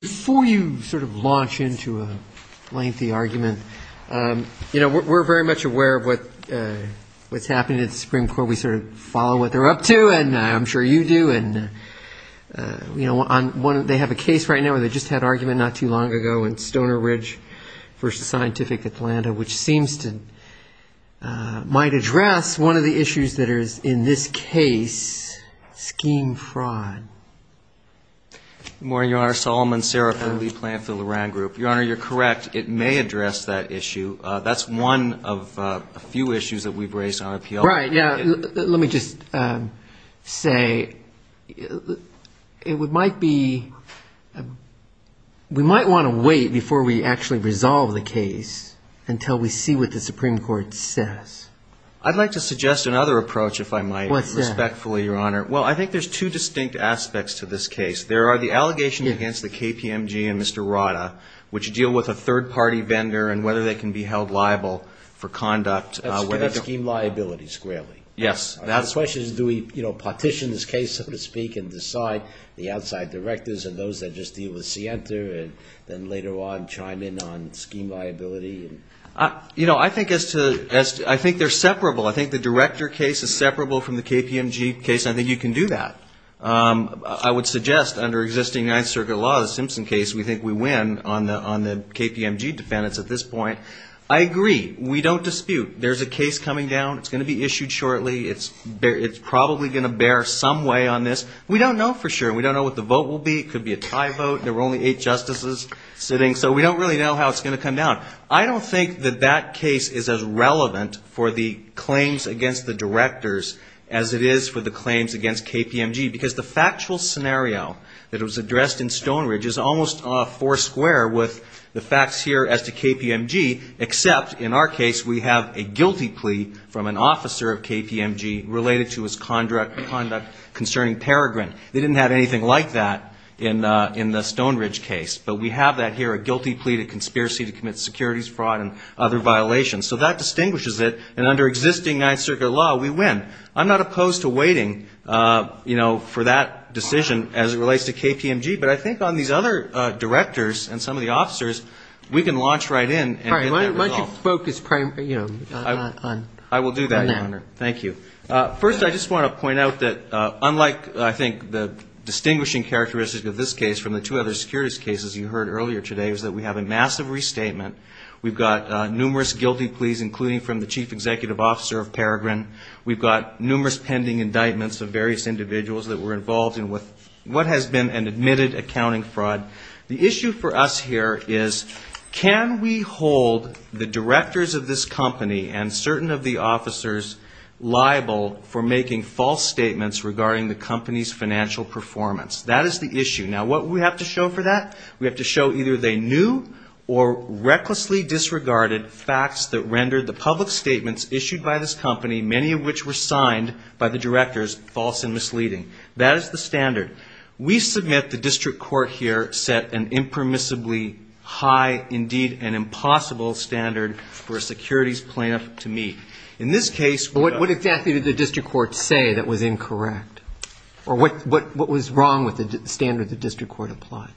Before you sort of launch into a lengthy argument, we're very much aware of what's happening at the Supreme Court. We sort of follow what they're up to, and I'm sure you do. They have a case right now where they just had an argument not too long ago in Stoner Ridge v. Scientific Atlanta, which seems to might address one of the issues that is, in this case, scheme fraud. Good morning, Your Honor. Solomon Serafin, lead plaintiff of the Loran Group. Your Honor, you're correct. It may address that issue. That's one of a few issues that we've raised on appeal. Right. Yeah. Let me just say it might be – we might want to wait before we actually resolve the case until we see what the Supreme Court says. I'd like to suggest another approach, if I might. What's that? Respectfully, Your Honor, well, I think there's two distinct aspects to this case. There are the allegations against the KPMG and Mr. Rada, which deal with a third-party vendor and whether they can be held liable for conduct. That's scheme liability, squarely. Yes. The question is, do we partition this case, so to speak, and decide the outside directors and those that just deal with Sienta and then later on chime in on scheme liability? You know, I think as to – I think they're separable. I think the director case is separable from the KPMG case. I think you can do that. I would suggest under existing Ninth Circuit law, the Simpson case, we think we win on the KPMG defendants at this point. I agree. We don't dispute. There's a case coming down. It's going to be issued shortly. It's probably going to bear some way on this. We don't know for sure. We don't know what the vote will be. It could be a tie vote. There were only eight justices sitting, so we don't really know how it's going to come down. I don't think that that case is as relevant for the claims against the directors as it is for the claims against KPMG, because the factual scenario that was addressed in Stonebridge is almost foursquare with the facts here as to KPMG, except in our case we have a guilty plea from an officer of KPMG related to his conduct concerning Peregrine. They didn't have anything like that in the Stonebridge case, but we have that here, a guilty plea to conspiracy to commit securities fraud and other violations. So that distinguishes it. And under existing Ninth Circuit law, we win. I'm not opposed to waiting for that decision as it relates to KPMG, but I think on these other directors and some of the officers, we can launch right in and get that result. All right. Why don't you focus primarily on that? I will do that, Your Honor. Thank you. First, I just want to point out that unlike, I think, the distinguishing characteristic of this case from the two other securities cases you heard earlier today is that we have a massive restatement. We've got numerous guilty pleas, including from the chief executive officer of Peregrine. We've got numerous pending indictments of various individuals that were involved in what has been an admitted accounting fraud. The issue for us here is can we hold the directors of this company and certain of the officers liable for making false statements regarding the company's financial performance? That is the issue. Now, what do we have to show for that? We have to show either they knew or recklessly disregarded facts that rendered the public statements issued by this company, many of which were signed by the directors, false and misleading. That is the standard. We submit, the district court here, set an impermissibly high, indeed, an impossible standard for a securities plaintiff to meet. In this case we've got to show that. But what exactly did the district court say that was incorrect? Or what was wrong with the standard the district court applied?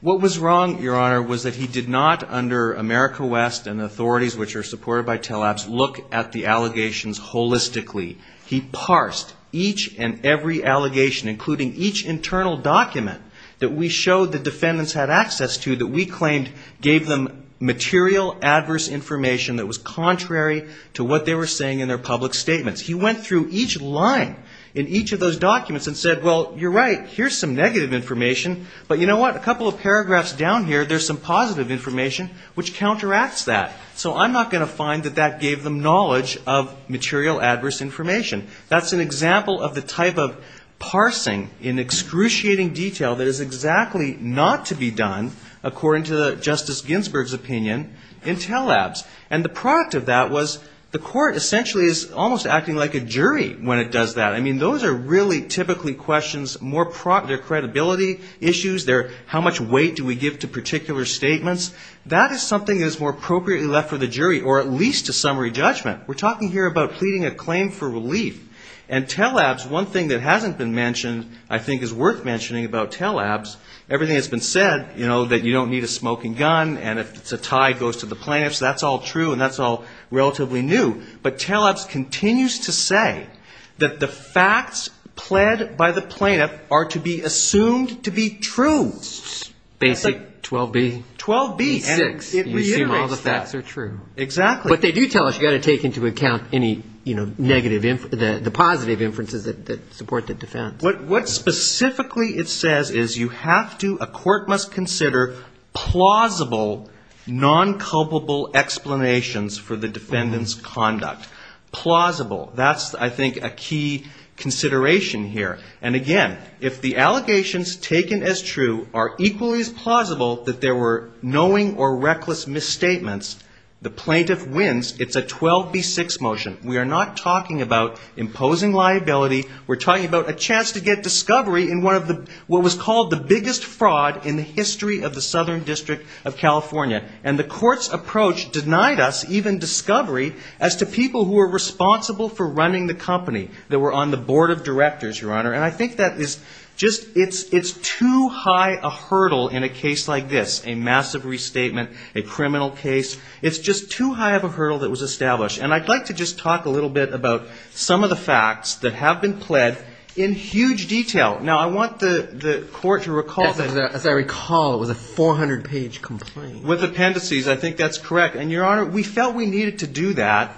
What was wrong, Your Honor, was that he did not, under America West and authorities which are supported by TLABS, look at the allegations holistically. He parsed each and every allegation, including each internal document that we showed the defendants had access to that we claimed gave them material adverse information that was contrary to what they were saying in their public statements. He went through each line in each of those documents and said, well, you're right, here's some negative information. But you know what? A couple of paragraphs down here, there's some positive information which counteracts that. So I'm not going to find that that gave them knowledge of material adverse information. That's an example of the type of parsing in excruciating detail that is exactly not to be done, according to Justice Ginsburg's opinion, in TLABS. And the product of that was the court essentially is almost acting like a jury when it does that. I mean, those are really typically questions, they're credibility issues, they're how much weight do we give to particular statements. That is something that is more appropriately left for the jury, or at least to summary judgment. We're talking here about pleading a claim for relief. And TLABS, one thing that hasn't been mentioned I think is worth mentioning about TLABS, everything that's been said, you know, that you don't need a smoking gun, and if it's a tie, it goes to the plaintiffs, that's all true, and that's all relatively new. But TLABS continues to say that the facts pled by the plaintiff are to be assumed to be true. That's like 12b. 12b. And it reiterates that. You assume all the facts are true. Exactly. But they do tell us you've got to take into account any, you know, negative, the positive inferences that support the defense. What specifically it says is you have to, a court must consider plausible non-culpable explanations for the defendant's conduct. Plausible. That's, I think, a key consideration here. And, again, if the allegations taken as true are equally as plausible that there were knowing or reckless misstatements, the plaintiff wins. It's a 12b. 6 motion. We are not talking about imposing liability. We're talking about a chance to get discovery in one of the, what was called the biggest fraud in the history of the Southern District of California. And the court's approach denied us even discovery as to people who were responsible for running the company that were on the board of directors, Your Honor. And I think that is just, it's too high a hurdle in a case like this, a massive restatement, a criminal case. It's just too high of a hurdle that was established. And I'd like to just talk a little bit about some of the facts that have been pled in huge detail. Now, I want the court to recall. As I recall, it was a 400-page complaint. With appendices. I think that's correct. And, Your Honor, we felt we needed to do that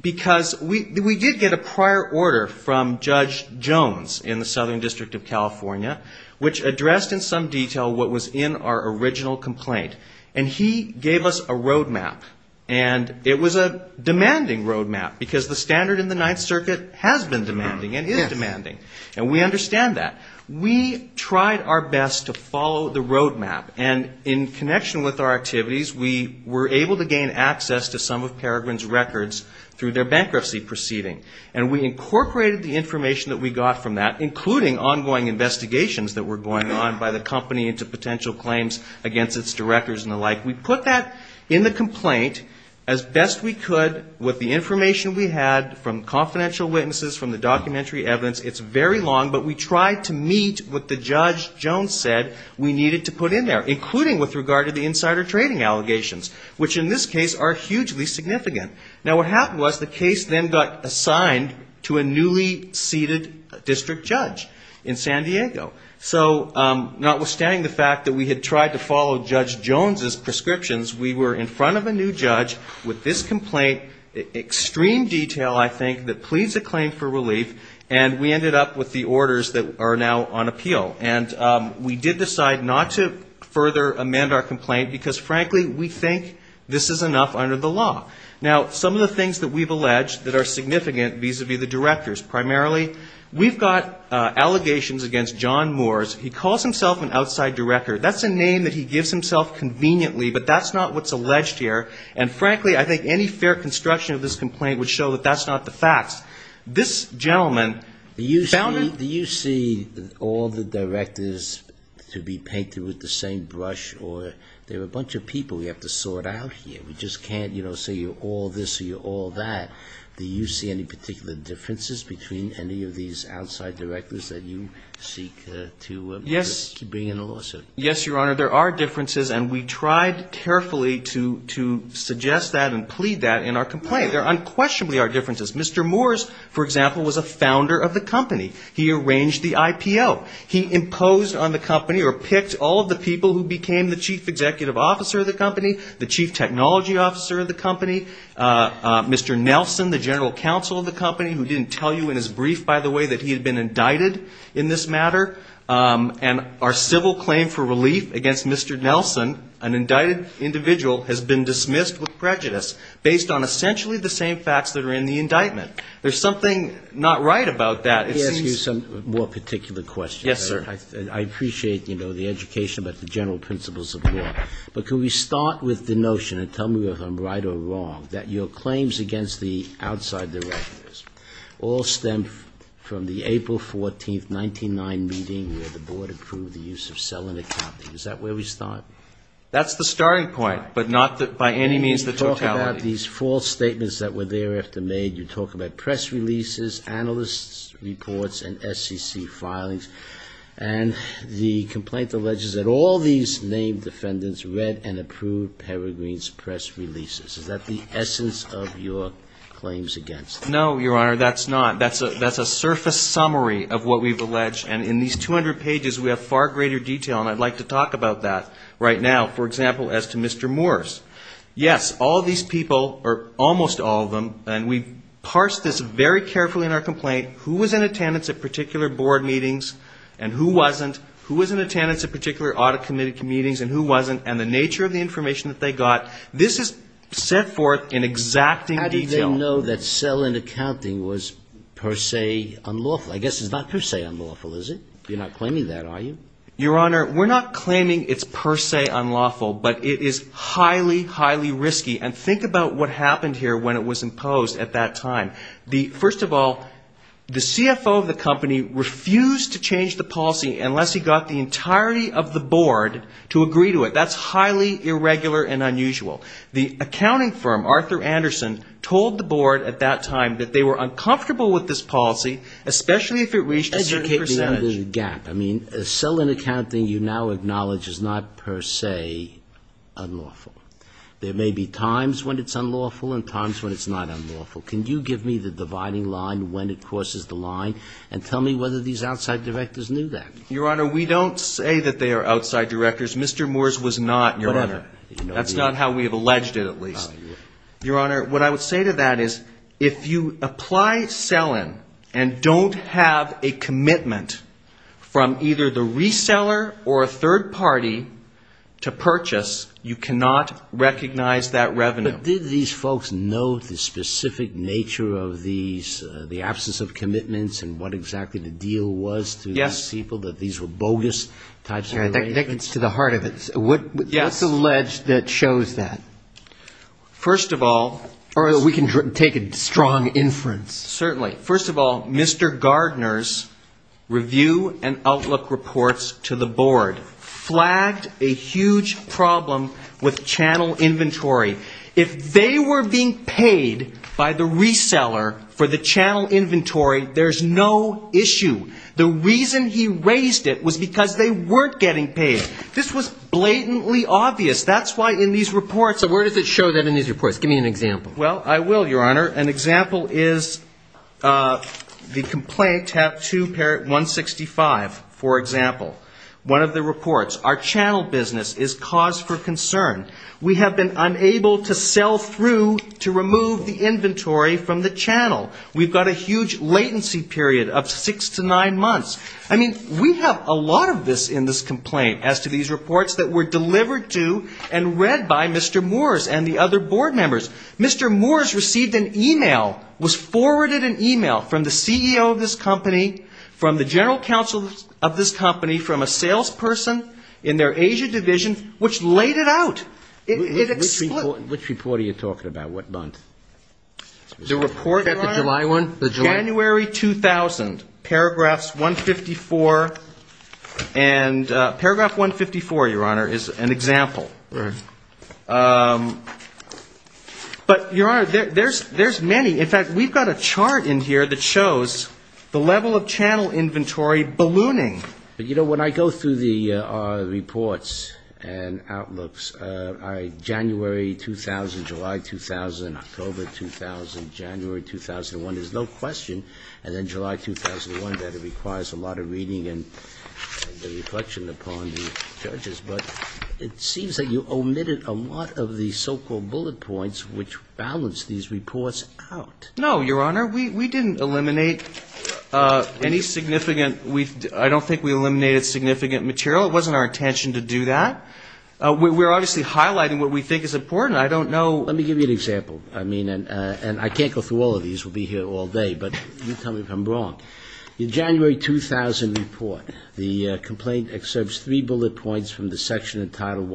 because we did get a prior order from Judge Jones in the Southern District of California, which addressed in some detail what was in our original complaint. And he gave us a road map. And it was a demanding road map because the standard in the Ninth Circuit has been demanding and is demanding. And we understand that. We tried our best to follow the road map. And in connection with our activities, we were able to gain access to some of Peregrine's records through their bankruptcy proceeding. And we incorporated the information that we got from that, including ongoing investigations that were going on by the company into potential claims against its directors and the like. We put that in the complaint as best we could with the information we had from confidential witnesses, from the documentary evidence. It's very long, but we tried to meet what the Judge Jones said we needed to put in there, including with regard to the insider trading allegations, which in this case are hugely significant. Now, what happened was the case then got assigned to a newly seated district judge in San Diego. So, notwithstanding the fact that we had tried to follow Judge Jones' prescriptions, we were in front of a new judge with this complaint, extreme detail, I think, that pleads a claim for relief. And we ended up with the orders that are now on appeal. And we did decide not to further amend our complaint, because, frankly, we think this is enough under the law. Now, some of the things that we've alleged that are significant vis-a-vis the directors, primarily, we've got allegations against John Moores. He calls himself an outside director. That's a name that he gives himself conveniently, but that's not what's alleged here. And, frankly, I think any fair construction of this complaint would show that that's not the facts. This gentleman found it. Do you see all the directors to be painted with the same brush? Or there are a bunch of people we have to sort out here. We just can't, you know, say you're all this or you're all that. Do you see any particular differences between any of these outside directors that you seek to bring in a lawsuit? Yes, Your Honor, there are differences. And we tried carefully to suggest that and plead that in our complaint. There unquestionably are differences. Mr. Moores, for example, was a founder of the company. He arranged the IPO. He imposed on the company or picked all of the people who became the chief executive officer of the company, the chief technology officer of the company, Mr. Nelson, the general counsel of the company, who didn't tell you in his brief, by the way, that he had been indicted in this matter. And our civil claim for relief against Mr. Nelson, an indicted individual, has been dismissed with prejudice based on essentially the same facts that are in the indictment. There's something not right about that. Let me ask you some more particular questions. Yes, sir. I appreciate, you know, the education about the general principles of law. But can we start with the notion, and tell me if I'm right or wrong, that your claims against the outside directors all stem from the April 14, 1999 meeting where the board approved the use of selling accounting. Is that where we start? That's the starting point, but not by any means the totality. You talk about these false statements that were thereafter made. You talk about press releases, analyst reports, and SEC filings. And the complaint alleges that all these named defendants read and approved Peregrine's press releases. Is that the essence of your claims against them? No, Your Honor, that's not. That's a surface summary of what we've alleged. And in these 200 pages we have far greater detail, and I'd like to talk about that. Right now, for example, as to Mr. Morris. Yes, all these people, or almost all of them, and we've parsed this very carefully in our complaint, who was in attendance at particular board meetings and who wasn't, who was in attendance at particular audit committee meetings and who wasn't, and the nature of the information that they got. This is set forth in exacting detail. How did they know that selling accounting was per se unlawful? I guess it's not per se unlawful, is it? You're not claiming that, are you? Your Honor, we're not claiming it's per se unlawful, but it is highly, highly risky. And think about what happened here when it was imposed at that time. First of all, the CFO of the company refused to change the policy unless he got the entirety of the board to agree to it. That's highly irregular and unusual. The accounting firm, Arthur Anderson, told the board at that time that they were uncomfortable with this policy, especially if it reached a certain percentage. But there's a gap. I mean, selling accounting you now acknowledge is not per se unlawful. There may be times when it's unlawful and times when it's not unlawful. Can you give me the dividing line when it crosses the line and tell me whether these outside directors knew that? Your Honor, we don't say that they are outside directors. Mr. Moores was not, Your Honor. That's not how we have alleged it, at least. Your Honor, what I would say to that is if you apply sell-in and don't have a commitment from either the reseller or a third party to purchase, you cannot recognize that revenue. But did these folks know the specific nature of these, the absence of commitments and what exactly the deal was to these people, that these were bogus types of arrangements? That gets to the heart of it. Yes. What's alleged that shows that? First of all we can take a strong inference. Certainly. First of all, Mr. Gardner's review and outlook reports to the board flagged a huge problem with channel inventory. If they were being paid by the reseller for the channel inventory, there's no issue. The reason he raised it was because they weren't getting paid. This was blatantly obvious. That's why in these reports. So where does it show that in these reports? Give me an example. Well, I will, Your Honor. An example is the complaint, tab 2, paragraph 165, for example. One of the reports. Our channel business is cause for concern. We have been unable to sell through to remove the inventory from the channel. We've got a huge latency period of six to nine months. I mean, we have a lot of this in this complaint as to these reports that were delivered to and read by Mr. Moores and the other board members. Mr. Moores received an e-mail, was forwarded an e-mail from the CEO of this company, from the general counsel of this company, from a salesperson in their Asia division, which laid it out. Which report are you talking about? What month? Is that the July one? January 2000, paragraphs 154. And paragraph 154, Your Honor, is an example. But, Your Honor, there's many. In fact, we've got a chart in here that shows the level of channel inventory ballooning. But, you know, when I go through the reports and outlooks, January 2000, July 2000, October 2000, January 2001, there's no question that in July 2001 that it requires a lot of reading and reflection upon the judges. But it seems that you omitted a lot of the so-called bullet points which balance these reports out. No, Your Honor. We didn't eliminate any significant. I don't think we eliminated significant material. It wasn't our intention to do that. We're obviously highlighting what we think is important. I don't know. Let me give you an example. I mean, and I can't go through all of these. We'll be here all day. But you tell me if I'm wrong. In the January 2000 report, the complaint excerpts three bullet points from the section entitled,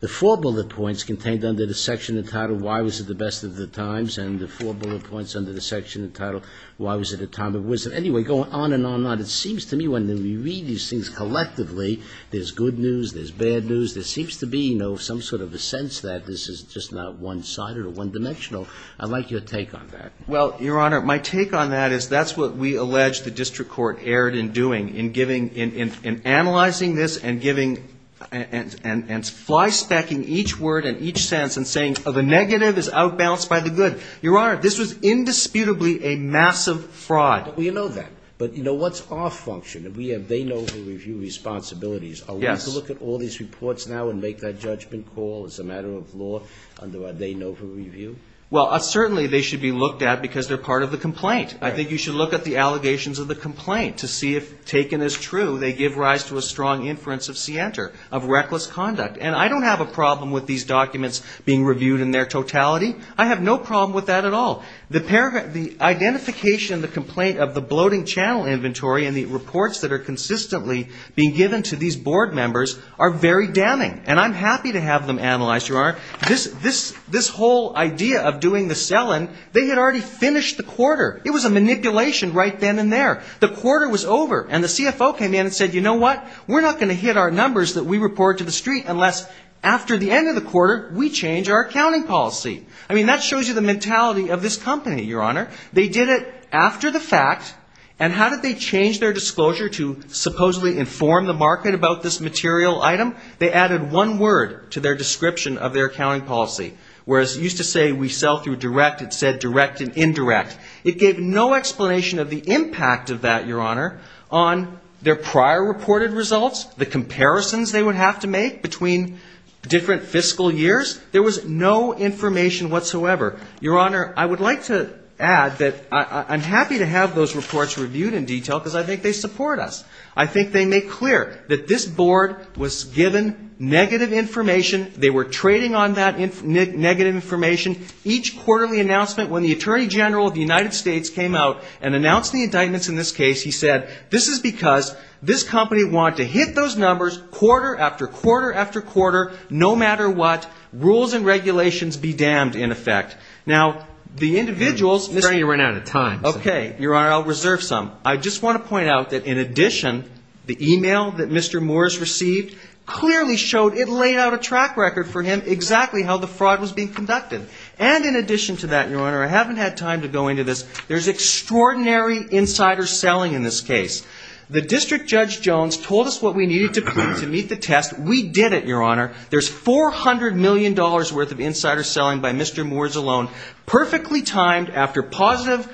the four bullet points contained under the section entitled, why was it the best of the times? And the four bullet points under the section entitled, why was it a time of wisdom? Anyway, going on and on and on, it seems to me when we read these things collectively, there's good news, there's bad news. There seems to be, you know, some sort of a sense that this is just not one-sided or one-dimensional. I'd like your take on that. Well, Your Honor, my take on that is that's what we allege the district court erred in doing, in giving, in analyzing this and giving, and fly-stacking each word and each sense and saying, oh, the negative is out-balanced by the good. Your Honor, this was indisputably a massive fraud. Well, you know that. But, you know, what's our function? We have they-know-who-review responsibilities. Yes. Are we to look at all these reports now and make that judgment call as a matter of law under our they-know-who-review? Well, certainly they should be looked at because they're part of the complaint. I think you should look at the allegations of the complaint to see if taken as true they give rise to a strong inference of scienter, of reckless conduct. And I don't have a problem with these documents being reviewed in their totality. I have no problem with that at all. The identification, the complaint of the bloating channel inventory and the reports that are consistently being given to these board members are very damning. And I'm happy to have them analyzed, Your Honor. This whole idea of doing the sell-in, they had already finished the quarter. It was a manipulation right then and there. The quarter was over. And the CFO came in and said, you know what? We're not going to hit our numbers that we report to the street unless after the end of the quarter we change our accounting policy. I mean, that shows you the mentality of this company, Your Honor. They did it after the fact. And how did they change their disclosure to supposedly inform the market about this material item? They added one word to their description of their accounting policy. Whereas it used to say we sell through direct, it said direct and indirect. It gave no explanation of the impact of that, Your Honor, on their prior reported results, the comparisons they would have to make between different fiscal years. There was no information whatsoever. Your Honor, I would like to add that I'm happy to have those reports reviewed in detail because I think they support us. I think they make clear that this board was given negative information. They were trading on that negative information. Each quarterly announcement, when the Attorney General of the United States came out and announced the indictments in this case, he said, this is because this company wanted to hit those numbers quarter after quarter after quarter, no matter what, rules and regulations be damned, in effect. Now, the individuals ---- I'm afraid we're running out of time. Okay. Your Honor, I'll reserve some. I just want to point out that in addition, the e-mail that Mr. Moores received clearly showed it laid out a track record for him exactly how the fraud was being conducted. And in addition to that, Your Honor, I haven't had time to go into this. There's extraordinary insider selling in this case. The District Judge Jones told us what we needed to do to meet the test. We did it, Your Honor. There's $400 million worth of insider selling by Mr. Moores alone, perfectly timed after positive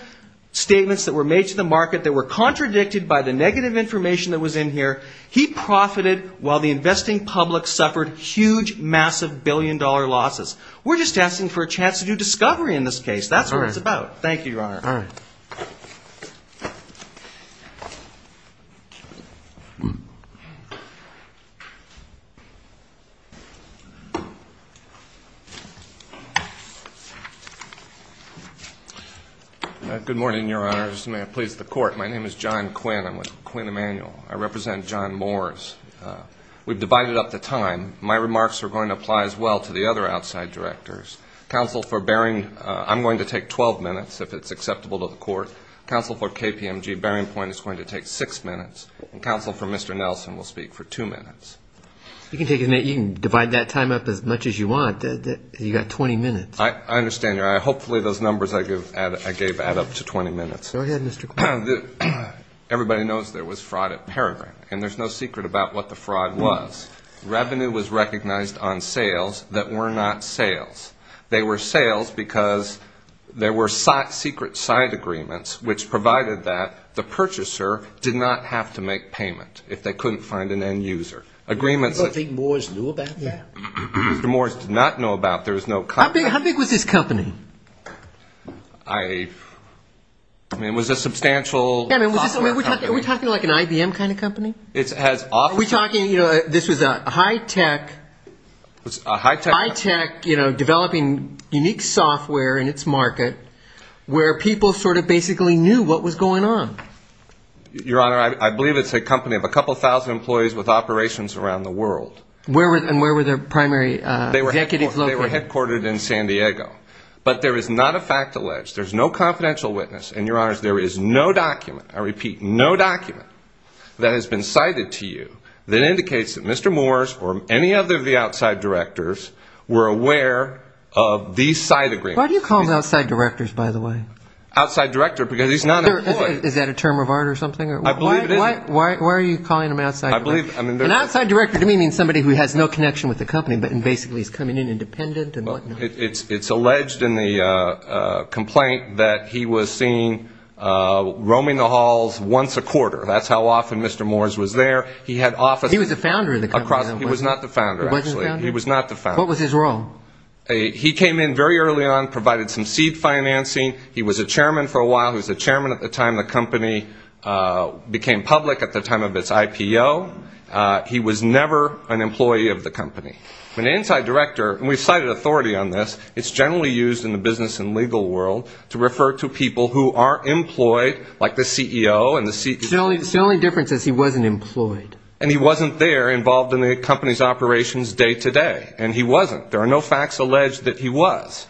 statements that were made to the market that were contradicted by the negative information that was in here. He profited while the investing public suffered huge, massive billion-dollar losses. We're just asking for a chance to do discovery in this case. That's what it's about. Thank you, Your Honor. All right. Good morning, Your Honor. May it please the Court. My name is John Quinn. I'm with Quinn Emanuel. I represent John Moores. We've divided up the time. My remarks are going to apply as well to the other outside directors. Counsel for Baring, I'm going to take 12 minutes if it's acceptable to the Court. Counsel for KPMG, Baring Point, is going to take six minutes. Counsel for Mr. Nelson will speak for two minutes. You can divide up the time. If you divide that time up as much as you want, you've got 20 minutes. I understand, Your Honor. Hopefully, those numbers I gave add up to 20 minutes. Go ahead, Mr. Quinn. Everybody knows there was fraud at Peregrine, and there's no secret about what the fraud was. Revenue was recognized on sales that were not sales. They were sales because there were secret side agreements which provided that the purchaser did not have to make payment if they couldn't find an end user. Do you think Moores knew about that? Mr. Moores did not know about it. How big was this company? I mean, it was a substantial software company. Are we talking like an IBM kind of company? Are we talking, you know, this was a high-tech developing unique software in its market where people sort of basically knew what was going on? Your Honor, I believe it's a company of a couple thousand employees with operations around the world. And where were their primary executives located? They were headquartered in San Diego. But there is not a fact alleged. There's no confidential witness. And, Your Honors, there is no document, I repeat, no document that has been cited to you that indicates that Mr. Moores or any of the outside directors were aware of these side agreements. Why do you call them outside directors, by the way? Outside director because he's not an employee. Is that a term of art or something? I believe it is. Why are you calling them outside directors? An outside director to me means somebody who has no connection with the company but basically is coming in independent and whatnot. It's alleged in the complaint that he was seen roaming the halls once a quarter. That's how often Mr. Moores was there. He was the founder of the company. He was not the founder, actually. He wasn't the founder? He was not the founder. What was his role? He came in very early on, provided some seed financing. He was a chairman for a while. He was a chairman at the time the company became public, at the time of its IPO. He was never an employee of the company. An inside director, and we've cited authority on this, it's generally used in the business and legal world to refer to people who aren't employed, like the CEO. The only difference is he wasn't employed. And he wasn't there involved in the company's operations day to day. And he wasn't. There are no facts alleged that he was.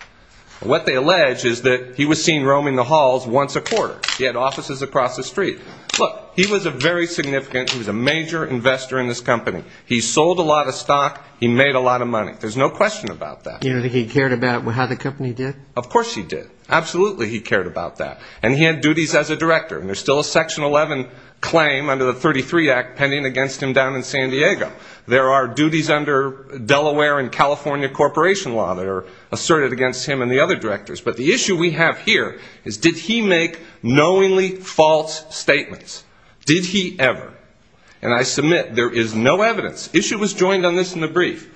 What they allege is that he was seen roaming the halls once a quarter. He had offices across the street. Look, he was a very significant, he was a major investor in this company. He sold a lot of stock. He made a lot of money. There's no question about that. You don't think he cared about how the company did? Of course he did. Absolutely he cared about that. And he had duties as a director. And there's still a Section 11 claim under the 33 Act pending against him down in San Diego. There are duties under Delaware and California Corporation Law that are asserted against him and the other directors. But the issue we have here is did he make knowingly false statements? Did he ever? And I submit there is no evidence. Issue was joined on this in the brief.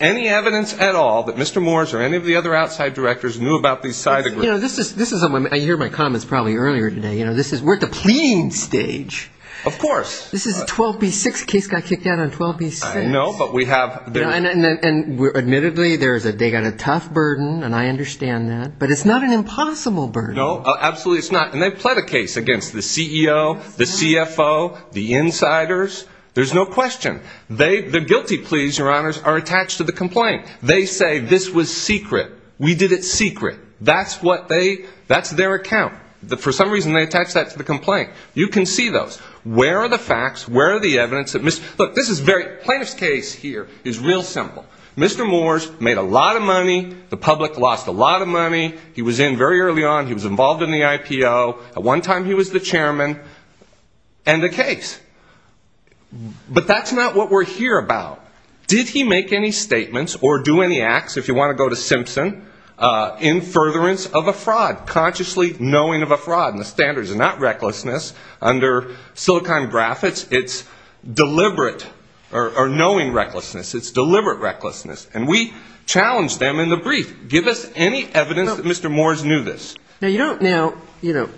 Any evidence at all that Mr. Moores or any of the other outside directors knew about these side agreements? You know, this is, I hear my comments probably earlier today. You know, this is, we're at the pleading stage. Of course. This is a 12B6 case got kicked out on 12B6. No, but we have. And admittedly, they got a tough burden, and I understand that. But it's not an impossible burden. No, absolutely it's not. And they pled a case against the CEO, the CFO, the insiders. There's no question. The guilty pleas, Your Honors, are attached to the complaint. They say this was secret. We did it secret. That's what they, that's their account. For some reason, they attach that to the complaint. You can see those. Where are the facts? Where are the evidence? Look, this is very, plaintiff's case here is real simple. Mr. Moores made a lot of money. The public lost a lot of money. He was in very early on. He was involved in the IPO. At one time, he was the chairman. End of case. But that's not what we're here about. Did he make any statements or do any acts, if you want to go to Simpson, in furtherance of a fraud, consciously knowing of a fraud? And the standards are not recklessness. Under Silicon Graphics, it's deliberate or knowing recklessness. It's deliberate recklessness. And we challenged them in the brief. Give us any evidence that Mr. Moores knew this. Now, you don't now, you know,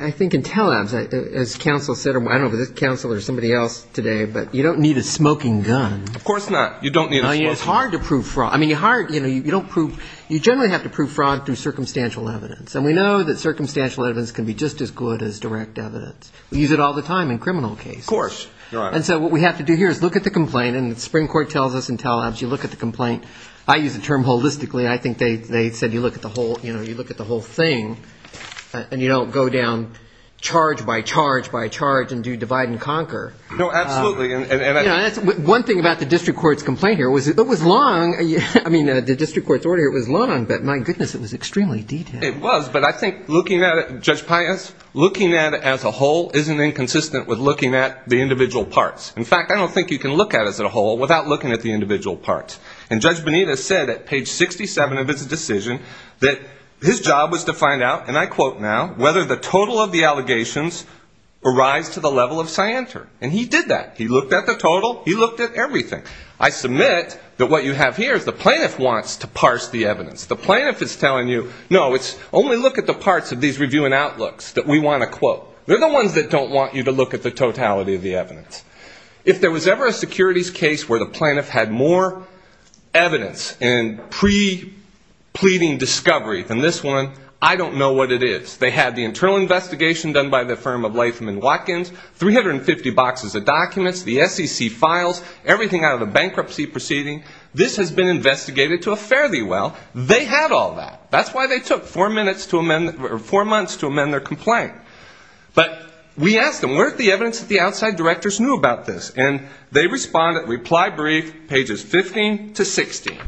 I think Intel Labs, as counsel said, I don't know if it was counsel or somebody else today, but you don't need a smoking gun. Of course not. You don't need a smoking gun. It's hard to prove fraud. I mean, you hard, you know, you don't prove, you generally have to prove fraud through circumstantial evidence. And we know that circumstantial evidence can be just as good as direct evidence. We use it all the time in criminal cases. Of course. And so what we have to do here is look at the complaint, and the Supreme Court tells us in Intel Labs, you look at the complaint. I use the term holistically. I think they said you look at the whole, you know, you look at the whole thing, and you don't go down charge by charge by charge and do divide and conquer. No, absolutely. And that's one thing about the district court's complaint here was it was long. I mean, the district court's order here was long, but my goodness, it was extremely detailed. It was, but I think looking at it, Judge Pius, looking at it as a whole isn't inconsistent with looking at the individual parts. In fact, I don't think you can look at it as a whole without looking at the individual parts. And Judge Bonita said at page 67 of his decision that his job was to find out, and I quote now, whether the total of the allegations arise to the level of scienter. And he did that. He looked at the total. He looked at everything. I submit that what you have here is the plaintiff wants to parse the evidence. The plaintiff is telling you, no, it's only look at the parts of these review and outlooks that we want to quote. They're the ones that don't want you to look at the totality of the evidence. If there was ever a securities case where the plaintiff had more evidence in pre-pleading discovery than this one, I don't know what it is. They had the internal investigation done by the firm of Leithman Watkins, 350 boxes of documents, the SEC files, everything out of the bankruptcy proceeding. This has been investigated to a fairly well. They had all that. That's why they took four months to amend their complaint. But we asked them, where is the evidence that the outside directors knew about this? And they responded, reply brief, pages 15 to 16.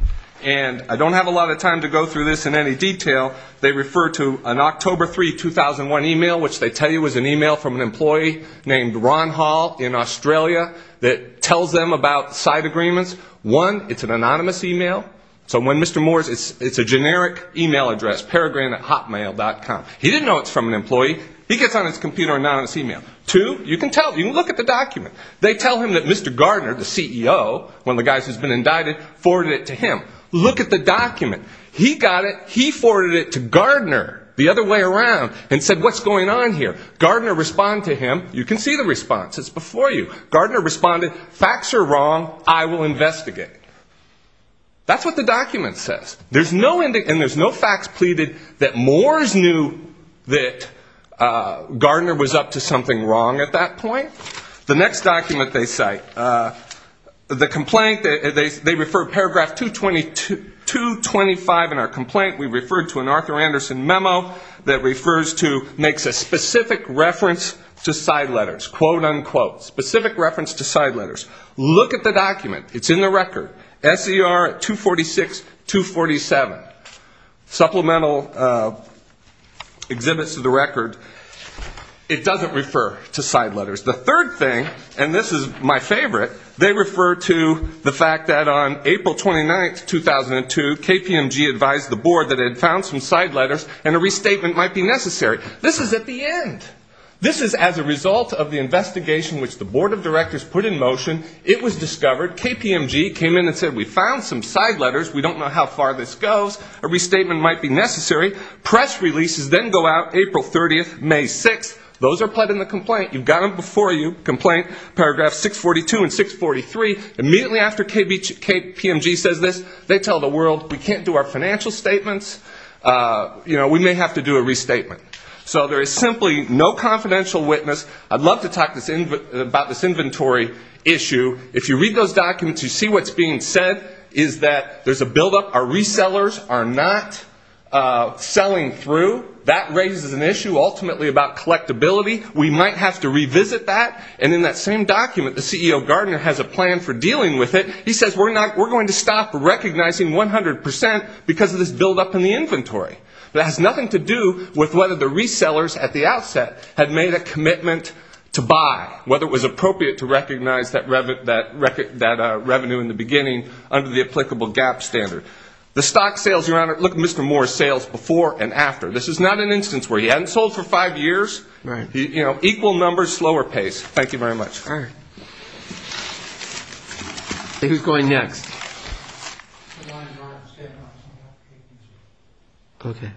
And I don't have a lot of time to go through this in any detail. They refer to an October 3, 2001 email, which they tell you was an email from an employee named Ron Hall in Australia that tells them about side agreements. One, it's an anonymous email. So when Mr. Moore's, it's a generic email address, Peregrine at Hotmail.com. He didn't know it was from an employee. He gets on his computer, anonymous email. Two, you can look at the document. They tell him that Mr. Gardner, the CEO, one of the guys who's been indicted, forwarded it to him. Look at the document. He got it. He forwarded it to Gardner the other way around and said, what's going on here? Gardner responded to him. You can see the response. It's before you. Gardner responded, facts are wrong. I will investigate. That's what the document says. And there's no facts pleaded that Moore's knew that Gardner was up to something wrong at that point. The next document they cite, the complaint, they refer paragraph 225 in our complaint. We referred to an Arthur Anderson memo that refers to, makes a specific reference to side letters, quote, unquote, specific reference to side letters. Look at the document. It's in the record. SER 246, 247. Supplemental exhibits to the record. It doesn't refer to side letters. The third thing, and this is my favorite, they refer to the fact that on April 29, 2002, KPMG advised the board that it had found some side letters and a restatement might be necessary. This is at the end. This is as a result of the investigation which the board of directors put in motion. It was discovered. KPMG came in and said we found some side letters. We don't know how far this goes. A restatement might be necessary. Press releases then go out April 30th, May 6th. Those are put in the complaint. You've got them before you, complaint, paragraph 642 and 643. Immediately after KPMG says this, they tell the world we can't do our financial statements. We may have to do a restatement. So there is simply no confidential witness. I'd love to talk about this inventory issue. If you read those documents, you see what's being said is that there's a buildup. Our resellers are not selling through. That raises an issue ultimately about collectability. We might have to revisit that. And in that same document, the CEO Gardner has a plan for dealing with it. He says we're going to stop recognizing 100% because of this buildup in the inventory. That has nothing to do with whether the resellers at the outset had made a commitment to buy, whether it was appropriate to recognize that revenue in the beginning under the applicable gap standard. The stock sales, Your Honor, look at Mr. Moore's sales before and after. This is not an instance where he hadn't sold for five years. Equal numbers, slower pace. Thank you very much. All right. Who's going next? Okay.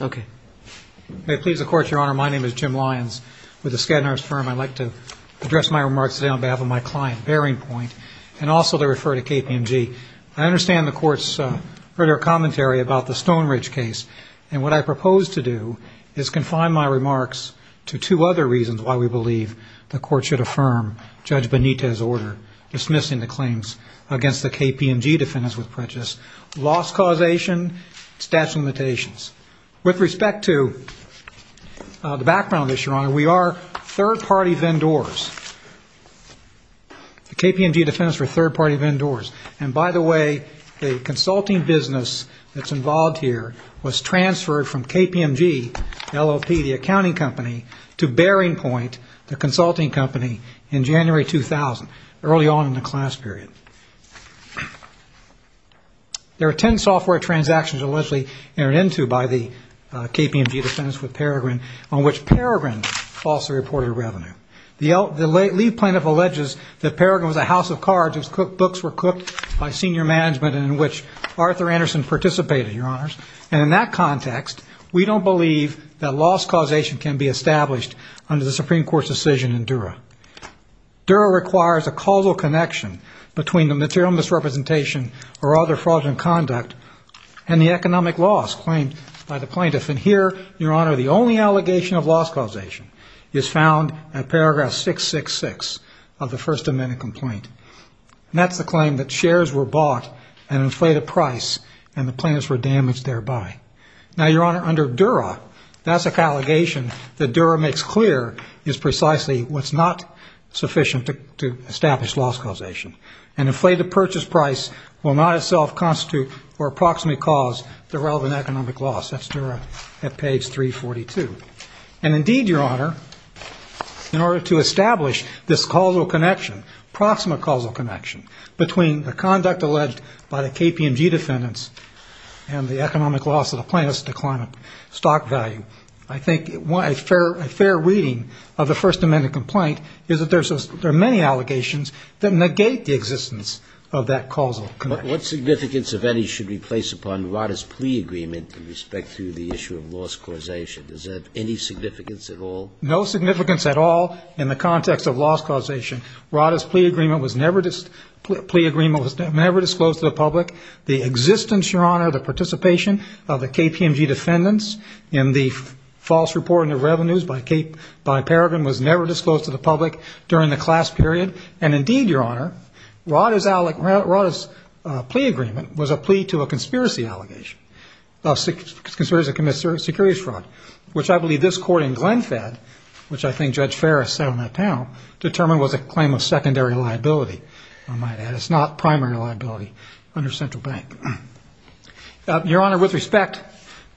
Okay. May it please the Court, Your Honor, my name is Jim Lyons with the Skadden Arms Firm. I'd like to address my remarks today on behalf of my client, Bearing Point, and also to refer to KPMG. I understand the Court's further commentary about the Stone Ridge case, and what I propose to do is confine my remarks to two other reasons why we believe the Court should affirm Judge Benitez's order dismissing the claims against the KPMG defendants with prejudice, loss causation, statute of limitations. With respect to the background issue, Your Honor, we are third-party vendors. The KPMG defendants were third-party vendors. And, by the way, the consulting business that's involved here was transferred from KPMG, LLP, the accounting company, to Bearing Point, the consulting company, in January 2000, early on in the class period. There are ten software transactions allegedly entered into by the KPMG defendants with Peregrine on which Peregrine falsely reported revenue. The lead plaintiff alleges that Peregrine was a house of cards whose books were cooked by senior management and in which Arthur Anderson participated, Your Honors. And in that context, we don't believe that loss causation can be established under the Supreme Court's decision in Dura. Dura requires a causal connection between the material misrepresentation or other fraudulent conduct and the economic loss claimed by the plaintiff. And here, Your Honor, the only allegation of loss causation is found at paragraph 666 of the First Amendment complaint. And that's the claim that shares were bought at an inflated price and the plaintiffs were damaged thereby. Now, Your Honor, under Dura, that's an allegation that Dura makes clear is precisely what's not sufficient to establish loss causation. An inflated purchase price will not itself constitute or approximately cause the relevant economic loss. That's Dura at page 342. And indeed, Your Honor, in order to establish this causal connection, proximate causal connection between the conduct alleged by the KPMG defendants and the economic loss of the plaintiffs to climate stock value, I think a fair reading of the First Amendment complaint is that there are many allegations that negate the existence of that causal connection. What significance, if any, should be placed upon Rada's plea agreement in respect to the issue of loss causation? Does that have any significance at all? No significance at all in the context of loss causation. Rada's plea agreement was never disclosed to the public. The existence, Your Honor, the participation of the KPMG defendants in the false reporting of revenues by Paragon was never disclosed to the public during the class period. And indeed, Your Honor, Rada's plea agreement was a plea to a conspiracy allegation of conspiracy to commit securities fraud, which I believe this court in Glenfed, which I think Judge Farris sat on that panel, determined was a claim of secondary liability. It's not primary liability under central bank. Your Honor, with respect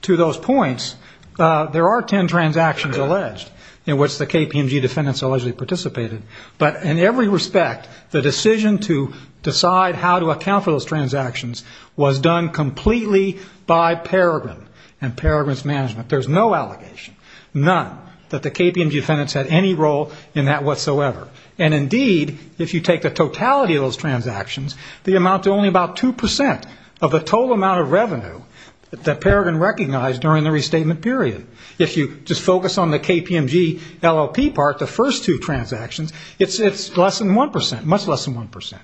to those points, there are 10 transactions alleged in which the KPMG defendants allegedly participated. But in every respect, the decision to decide how to account for those transactions was done completely by Paragon and Paragon's management. There's no allegation, none, that the KPMG defendants had any role in that whatsoever. And indeed, if you take the totality of those transactions, the amount to only about 2% of the total amount of revenue that Paragon recognized during the restatement period. If you just focus on the KPMG LLP part, the first two transactions, it's less than 1%, much less than 1%.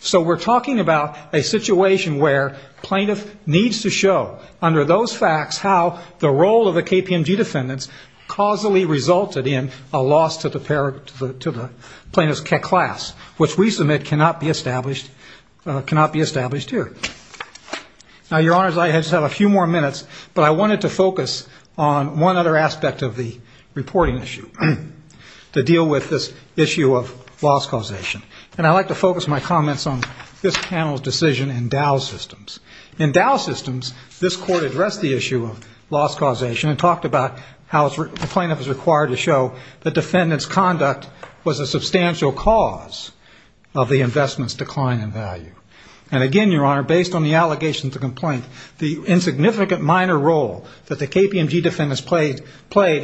So we're talking about a situation where plaintiff needs to show, under those facts, how the role of the KPMG defendants causally resulted in a loss to the plaintiff's class, which we submit cannot be established here. Now, Your Honors, I just have a few more minutes, but I wanted to focus on one other aspect of the reporting issue to deal with this issue of loss causation. And I'd like to focus my comments on this panel's decision in Dow Systems. In Dow Systems, this court addressed the issue of loss causation and talked about how the plaintiff is required to show that defendants' conduct was a substantial cause of the investment's decline in value. And again, Your Honor, based on the allegations of complaint, the insignificant minor role that the KPMG defendants played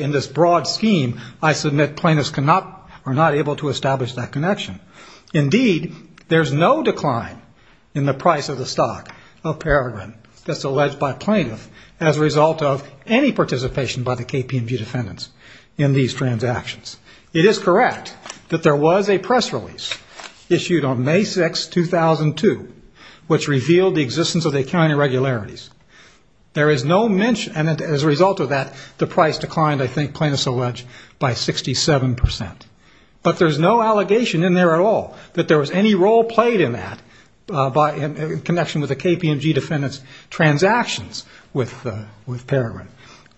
in this broad scheme, I submit plaintiffs are not able to establish that connection. Indeed, there's no decline in the price of the stock of Peregrine that's alleged by plaintiff as a result of any participation by the KPMG defendants in these transactions. It is correct that there was a press release issued on May 6, 2002, which revealed the existence of accounting irregularities. There is no mention, and as a result of that, the price declined, I think plaintiffs allege, by 67%. But there's no allegation in there at all that there was any role played in that in connection with the KPMG defendants' transactions with Peregrine.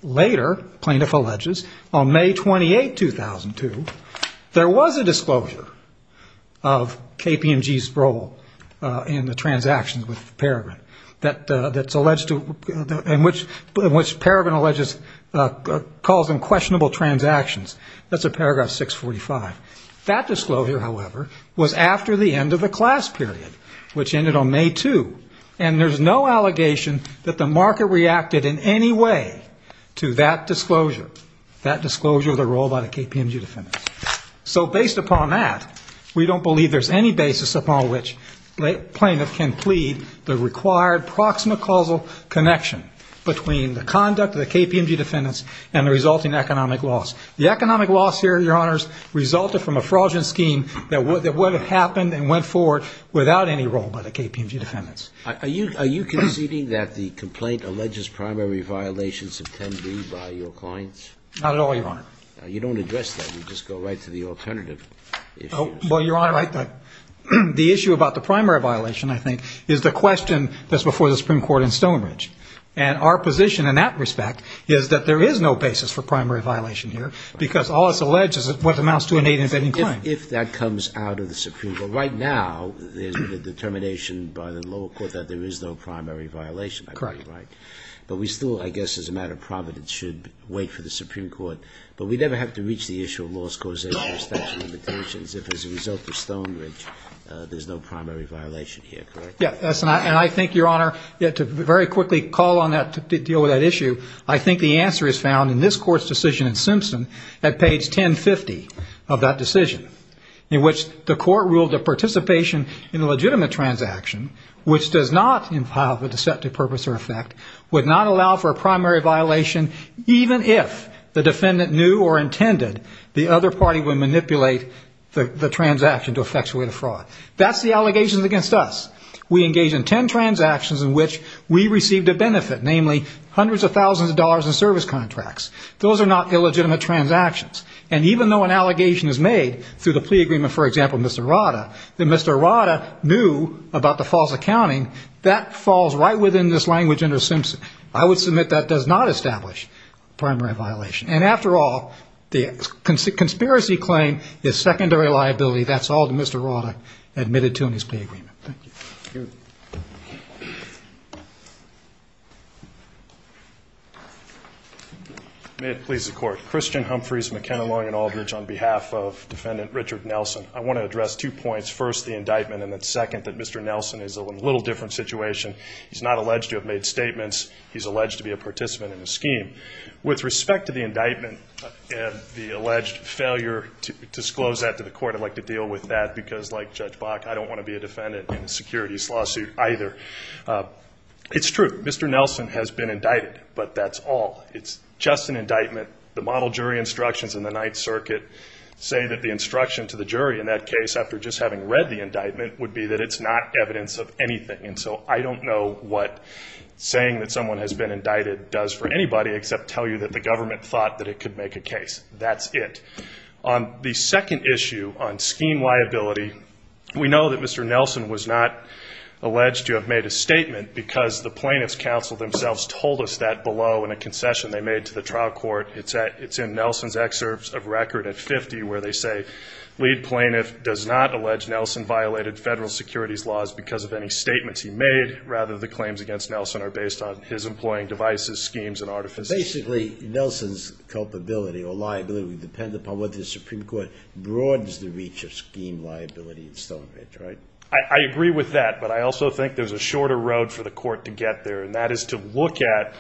Later, plaintiff alleges, on May 28, 2002, there was a disclosure of KPMG's role in the transactions with Peregrine, in which Peregrine alleges calls them questionable transactions. That's at paragraph 645. That disclosure, however, was after the end of the class period, which ended on May 2, and there's no allegation that the market reacted in any way to that disclosure, that disclosure of the role by the KPMG defendants. So based upon that, we don't believe there's any basis upon which plaintiff can plead the required proximate causal connection between the conduct of the KPMG defendants and the resulting economic loss. The economic loss here, Your Honors, resulted from a fraudulent scheme that would have happened and went forward without any role by the KPMG defendants. Are you conceding that the complaint alleges primary violations of 10b by your clients? Not at all, Your Honor. You don't address that. You just go right to the alternative. Well, Your Honor, the issue about the primary violation, I think, is the question that's before the Supreme Court in Stonebridge. And our position in that respect is that there is no basis for primary violation here, because all that's alleged is what amounts to an eight-and-fifteen claim. If that comes out of the Supreme Court. Right now, there's been a determination by the lower court that there is no primary violation. Correct. But we still, I guess, as a matter of providence, should wait for the Supreme Court. But we never have to reach the issue of loss causation or statute of limitations if, as a result of Stonebridge, there's no primary violation here, correct? Yes, and I think, Your Honor, to very quickly call on that to deal with that issue, I think the answer is found in this court's decision in Simpson at page 1050 of that decision, in which the court ruled that participation in a legitimate transaction, which does not have a deceptive purpose or effect, would not allow for a primary violation even if the defendant knew or intended the other party would manipulate the transaction to effectuate a fraud. That's the allegations against us. We engage in ten transactions in which we received a benefit, namely hundreds of thousands of dollars in service contracts. Those are not illegitimate transactions. And even though an allegation is made through the plea agreement, for example, Mr. Rada, that Mr. Rada knew about the false accounting, that falls right within this language under Simpson. I would submit that does not establish primary violation. And after all, the conspiracy claim is secondary liability. That's all that Mr. Rada admitted to in his plea agreement. Thank you. May it please the Court. Christian Humphreys, McKenna, Long, and Aldridge on behalf of Defendant Richard Nelson. I want to address two points. First, the indictment, and then second, that Mr. Nelson is in a little different situation. He's not alleged to have made statements. He's alleged to be a participant in the scheme. With respect to the indictment and the alleged failure to disclose that to the Court, I'd like to deal with that because, like Judge Bach, I don't want to be a defendant in a securities lawsuit either. It's true. Mr. Nelson has been indicted, but that's all. It's just an indictment. The model jury instructions in the Ninth Circuit say that the instruction to the jury in that case, after just having read the indictment, would be that it's not evidence of anything. And so I don't know what saying that someone has been indicted does for anybody, except tell you that the government thought that it could make a case. That's it. On the second issue, on scheme liability, we know that Mr. Nelson was not alleged to have made a statement because the plaintiff's counsel themselves told us that below in a concession they made to the trial court. It's in Nelson's excerpts of record at 50 where they say, The lead plaintiff does not allege Nelson violated federal securities laws because of any statements he made. Rather, the claims against Nelson are based on his employing devices, schemes, and artifice. Basically, Nelson's culpability or liability would depend upon whether the Supreme Court broadens the reach of scheme liability and so on. I agree with that, but I also think there's a shorter road for the Court to get there, and that is to look at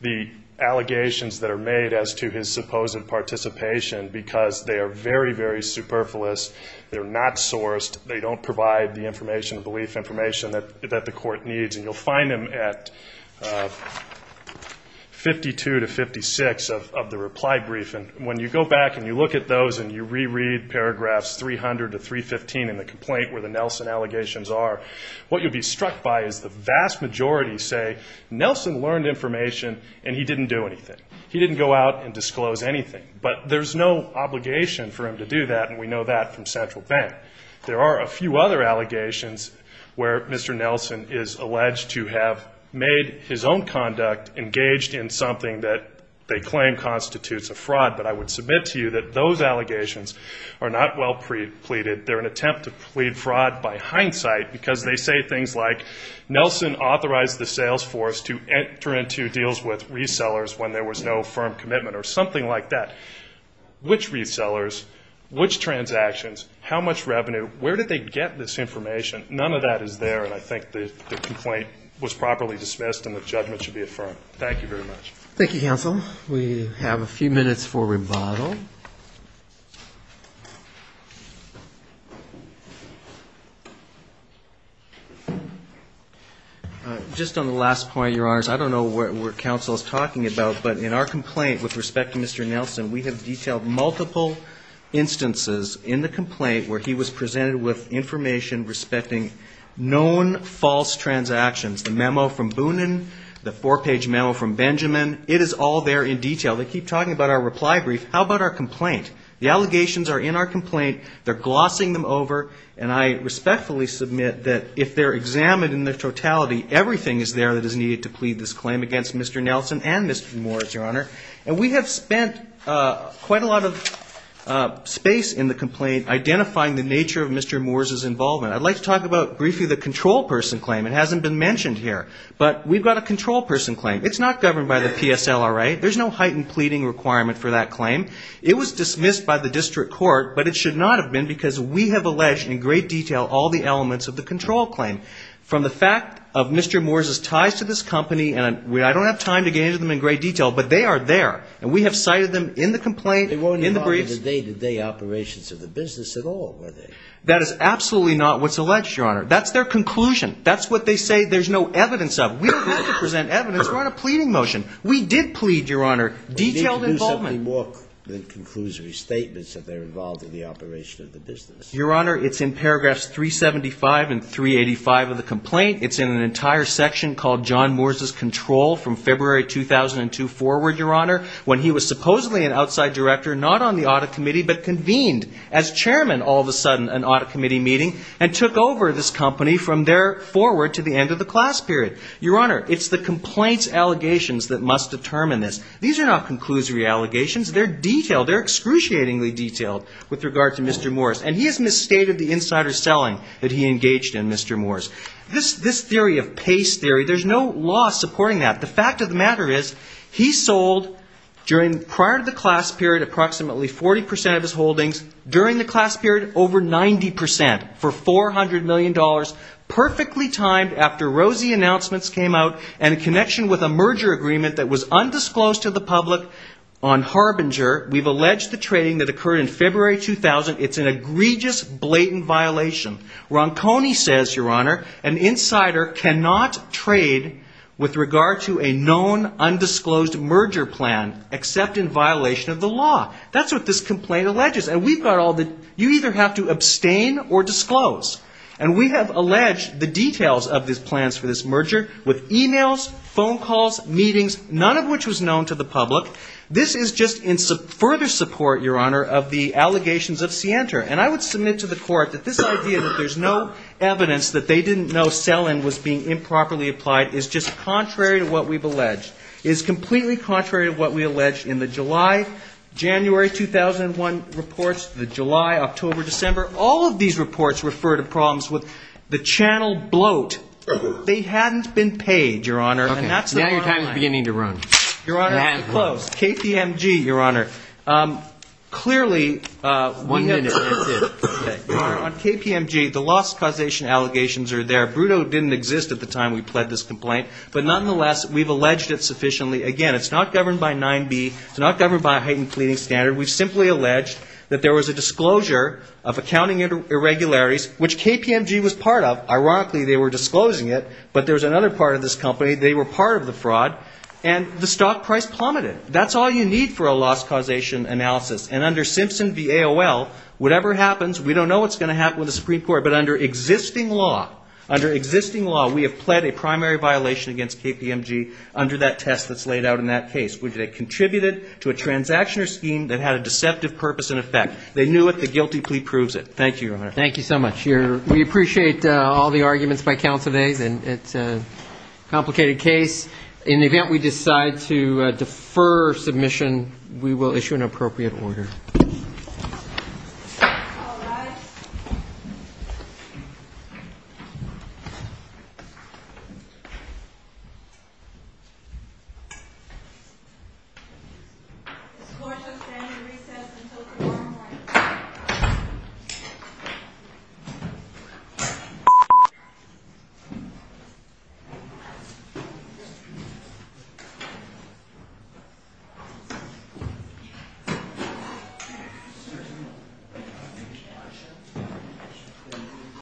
the allegations that are made as to his supposed participation because they are very, very superfluous. They're not sourced. They don't provide the information, the belief information, that the Court needs. And you'll find them at 52 to 56 of the reply brief. And when you go back and you look at those and you reread paragraphs 300 to 315 in the complaint where the Nelson allegations are, what you'll be struck by is the vast majority say Nelson learned information and he didn't do anything. He didn't go out and disclose anything. But there's no obligation for him to do that, and we know that from Central Bank. There are a few other allegations where Mr. Nelson is alleged to have made his own conduct engaged in something that they claim constitutes a fraud. But I would submit to you that those allegations are not well pleaded. They're an attempt to plead fraud by hindsight because they say things like, which resellers, which transactions, how much revenue, where did they get this information? None of that is there, and I think the complaint was properly dismissed and the judgment should be affirmed. Thank you very much. Thank you, counsel. We have a few minutes for rebuttal. Just on the last point, Your Honors, I don't know what counsel is talking about, but in our complaint with respect to Mr. Nelson, we have detailed multiple instances in the complaint where he was presented with information respecting known false transactions, the memo from Boonin, the four-page memo from Benjamin. It is all there in detail. They keep talking about our reply brief. How about our complaint? The allegations are in our complaint. They're glossing them over, and I respectfully submit that if they're examined in their totality, everything is there that is needed to plead this claim against Mr. Nelson and Mr. Moores, Your Honor. And we have spent quite a lot of space in the complaint identifying the nature of Mr. Moores' involvement. I'd like to talk about briefly the control person claim. It hasn't been mentioned here, but we've got a control person claim. It's not governed by the PSLRA. There's no heightened pleading requirement for that claim. It was dismissed by the district court, but it should not have been because we have alleged in great detail all the elements of the control claim. From the fact of Mr. Moores' ties to this company, and I don't have time to get into them in great detail, but they are there. And we have cited them in the complaint, in the briefs. They weren't involved in the day-to-day operations of the business at all, were they? That is absolutely not what's alleged, Your Honor. That's their conclusion. That's what they say there's no evidence of. We don't have to present evidence. We're on a pleading motion. We did plead, Your Honor, detailed involvement. We need to do something more than conclusory statements that they're involved in the operation of the business. Your Honor, it's in paragraphs 375 and 385 of the complaint. It's in an entire section called John Moores' control from February 2002 forward, Your Honor, when he was supposedly an outside director, not on the audit committee, but convened as chairman, all of a sudden, an audit committee meeting, and took over this company from there forward to the end of the class period. Your Honor, it's the complaint's allegations that must determine this. These are not conclusory allegations. They're detailed. They're excruciatingly detailed with regard to Mr. Moores. And he has misstated the insider selling that he engaged in, Mr. Moores. This theory of PACE theory, there's no law supporting that. The fact of the matter is he sold during prior to the class period approximately 40 percent of his holdings. During the class period, over 90 percent for $400 million, perfectly timed after Rosie announcements came out and in connection with a merger agreement that was undisclosed to the public on Harbinger. We've alleged the trading that occurred in February 2000. It's an egregious, blatant violation. Ronconi says, Your Honor, an insider cannot trade with regard to a known undisclosed merger plan except in violation of the law. That's what this complaint alleges. And we've got all the – you either have to abstain or disclose. And we have alleged the details of these plans for this merger with emails, phone calls, meetings, none of which was known to the public. This is just in further support, Your Honor, of the allegations of Sienta. And I would submit to the court that this idea that there's no evidence that they didn't know Selin was being improperly applied is just contrary to what we've alleged. It is completely contrary to what we alleged in the July – January 2001 reports, the July, October, December. All of these reports refer to problems with the channel bloat. They hadn't been paid, Your Honor. And that's the bottom line. Now your time is beginning to run. Your Honor, I have to close. KPMG, Your Honor, clearly – One minute. That's it. Your Honor, on KPMG, the loss causation allegations are there. Brutto didn't exist at the time we pled this complaint. But nonetheless, we've alleged it sufficiently. Again, it's not governed by 9B. It's not governed by a heightened pleading standard. We've simply alleged that there was a disclosure of accounting irregularities, which KPMG was part of. Ironically, they were disclosing it. But there was another part of this company. They were part of the fraud. And the stock price plummeted. That's all you need for a loss causation analysis. And under Simpson v. AOL, whatever happens, we don't know what's going to happen with the Supreme Court. But under existing law, under existing law, we have pled a primary violation against KPMG under that test that's laid out in that case. They contributed to a transaction or scheme that had a deceptive purpose and effect. They knew it. The guilty plea proves it. Thank you, Your Honor. Thank you so much. We appreciate all the arguments by counsel today. It's a complicated case. In the event we decide to defer submission, we will issue an appropriate order. All rise. This court shall stand in recess until confirmed witness. This court shall stand in recess until confirmed witness.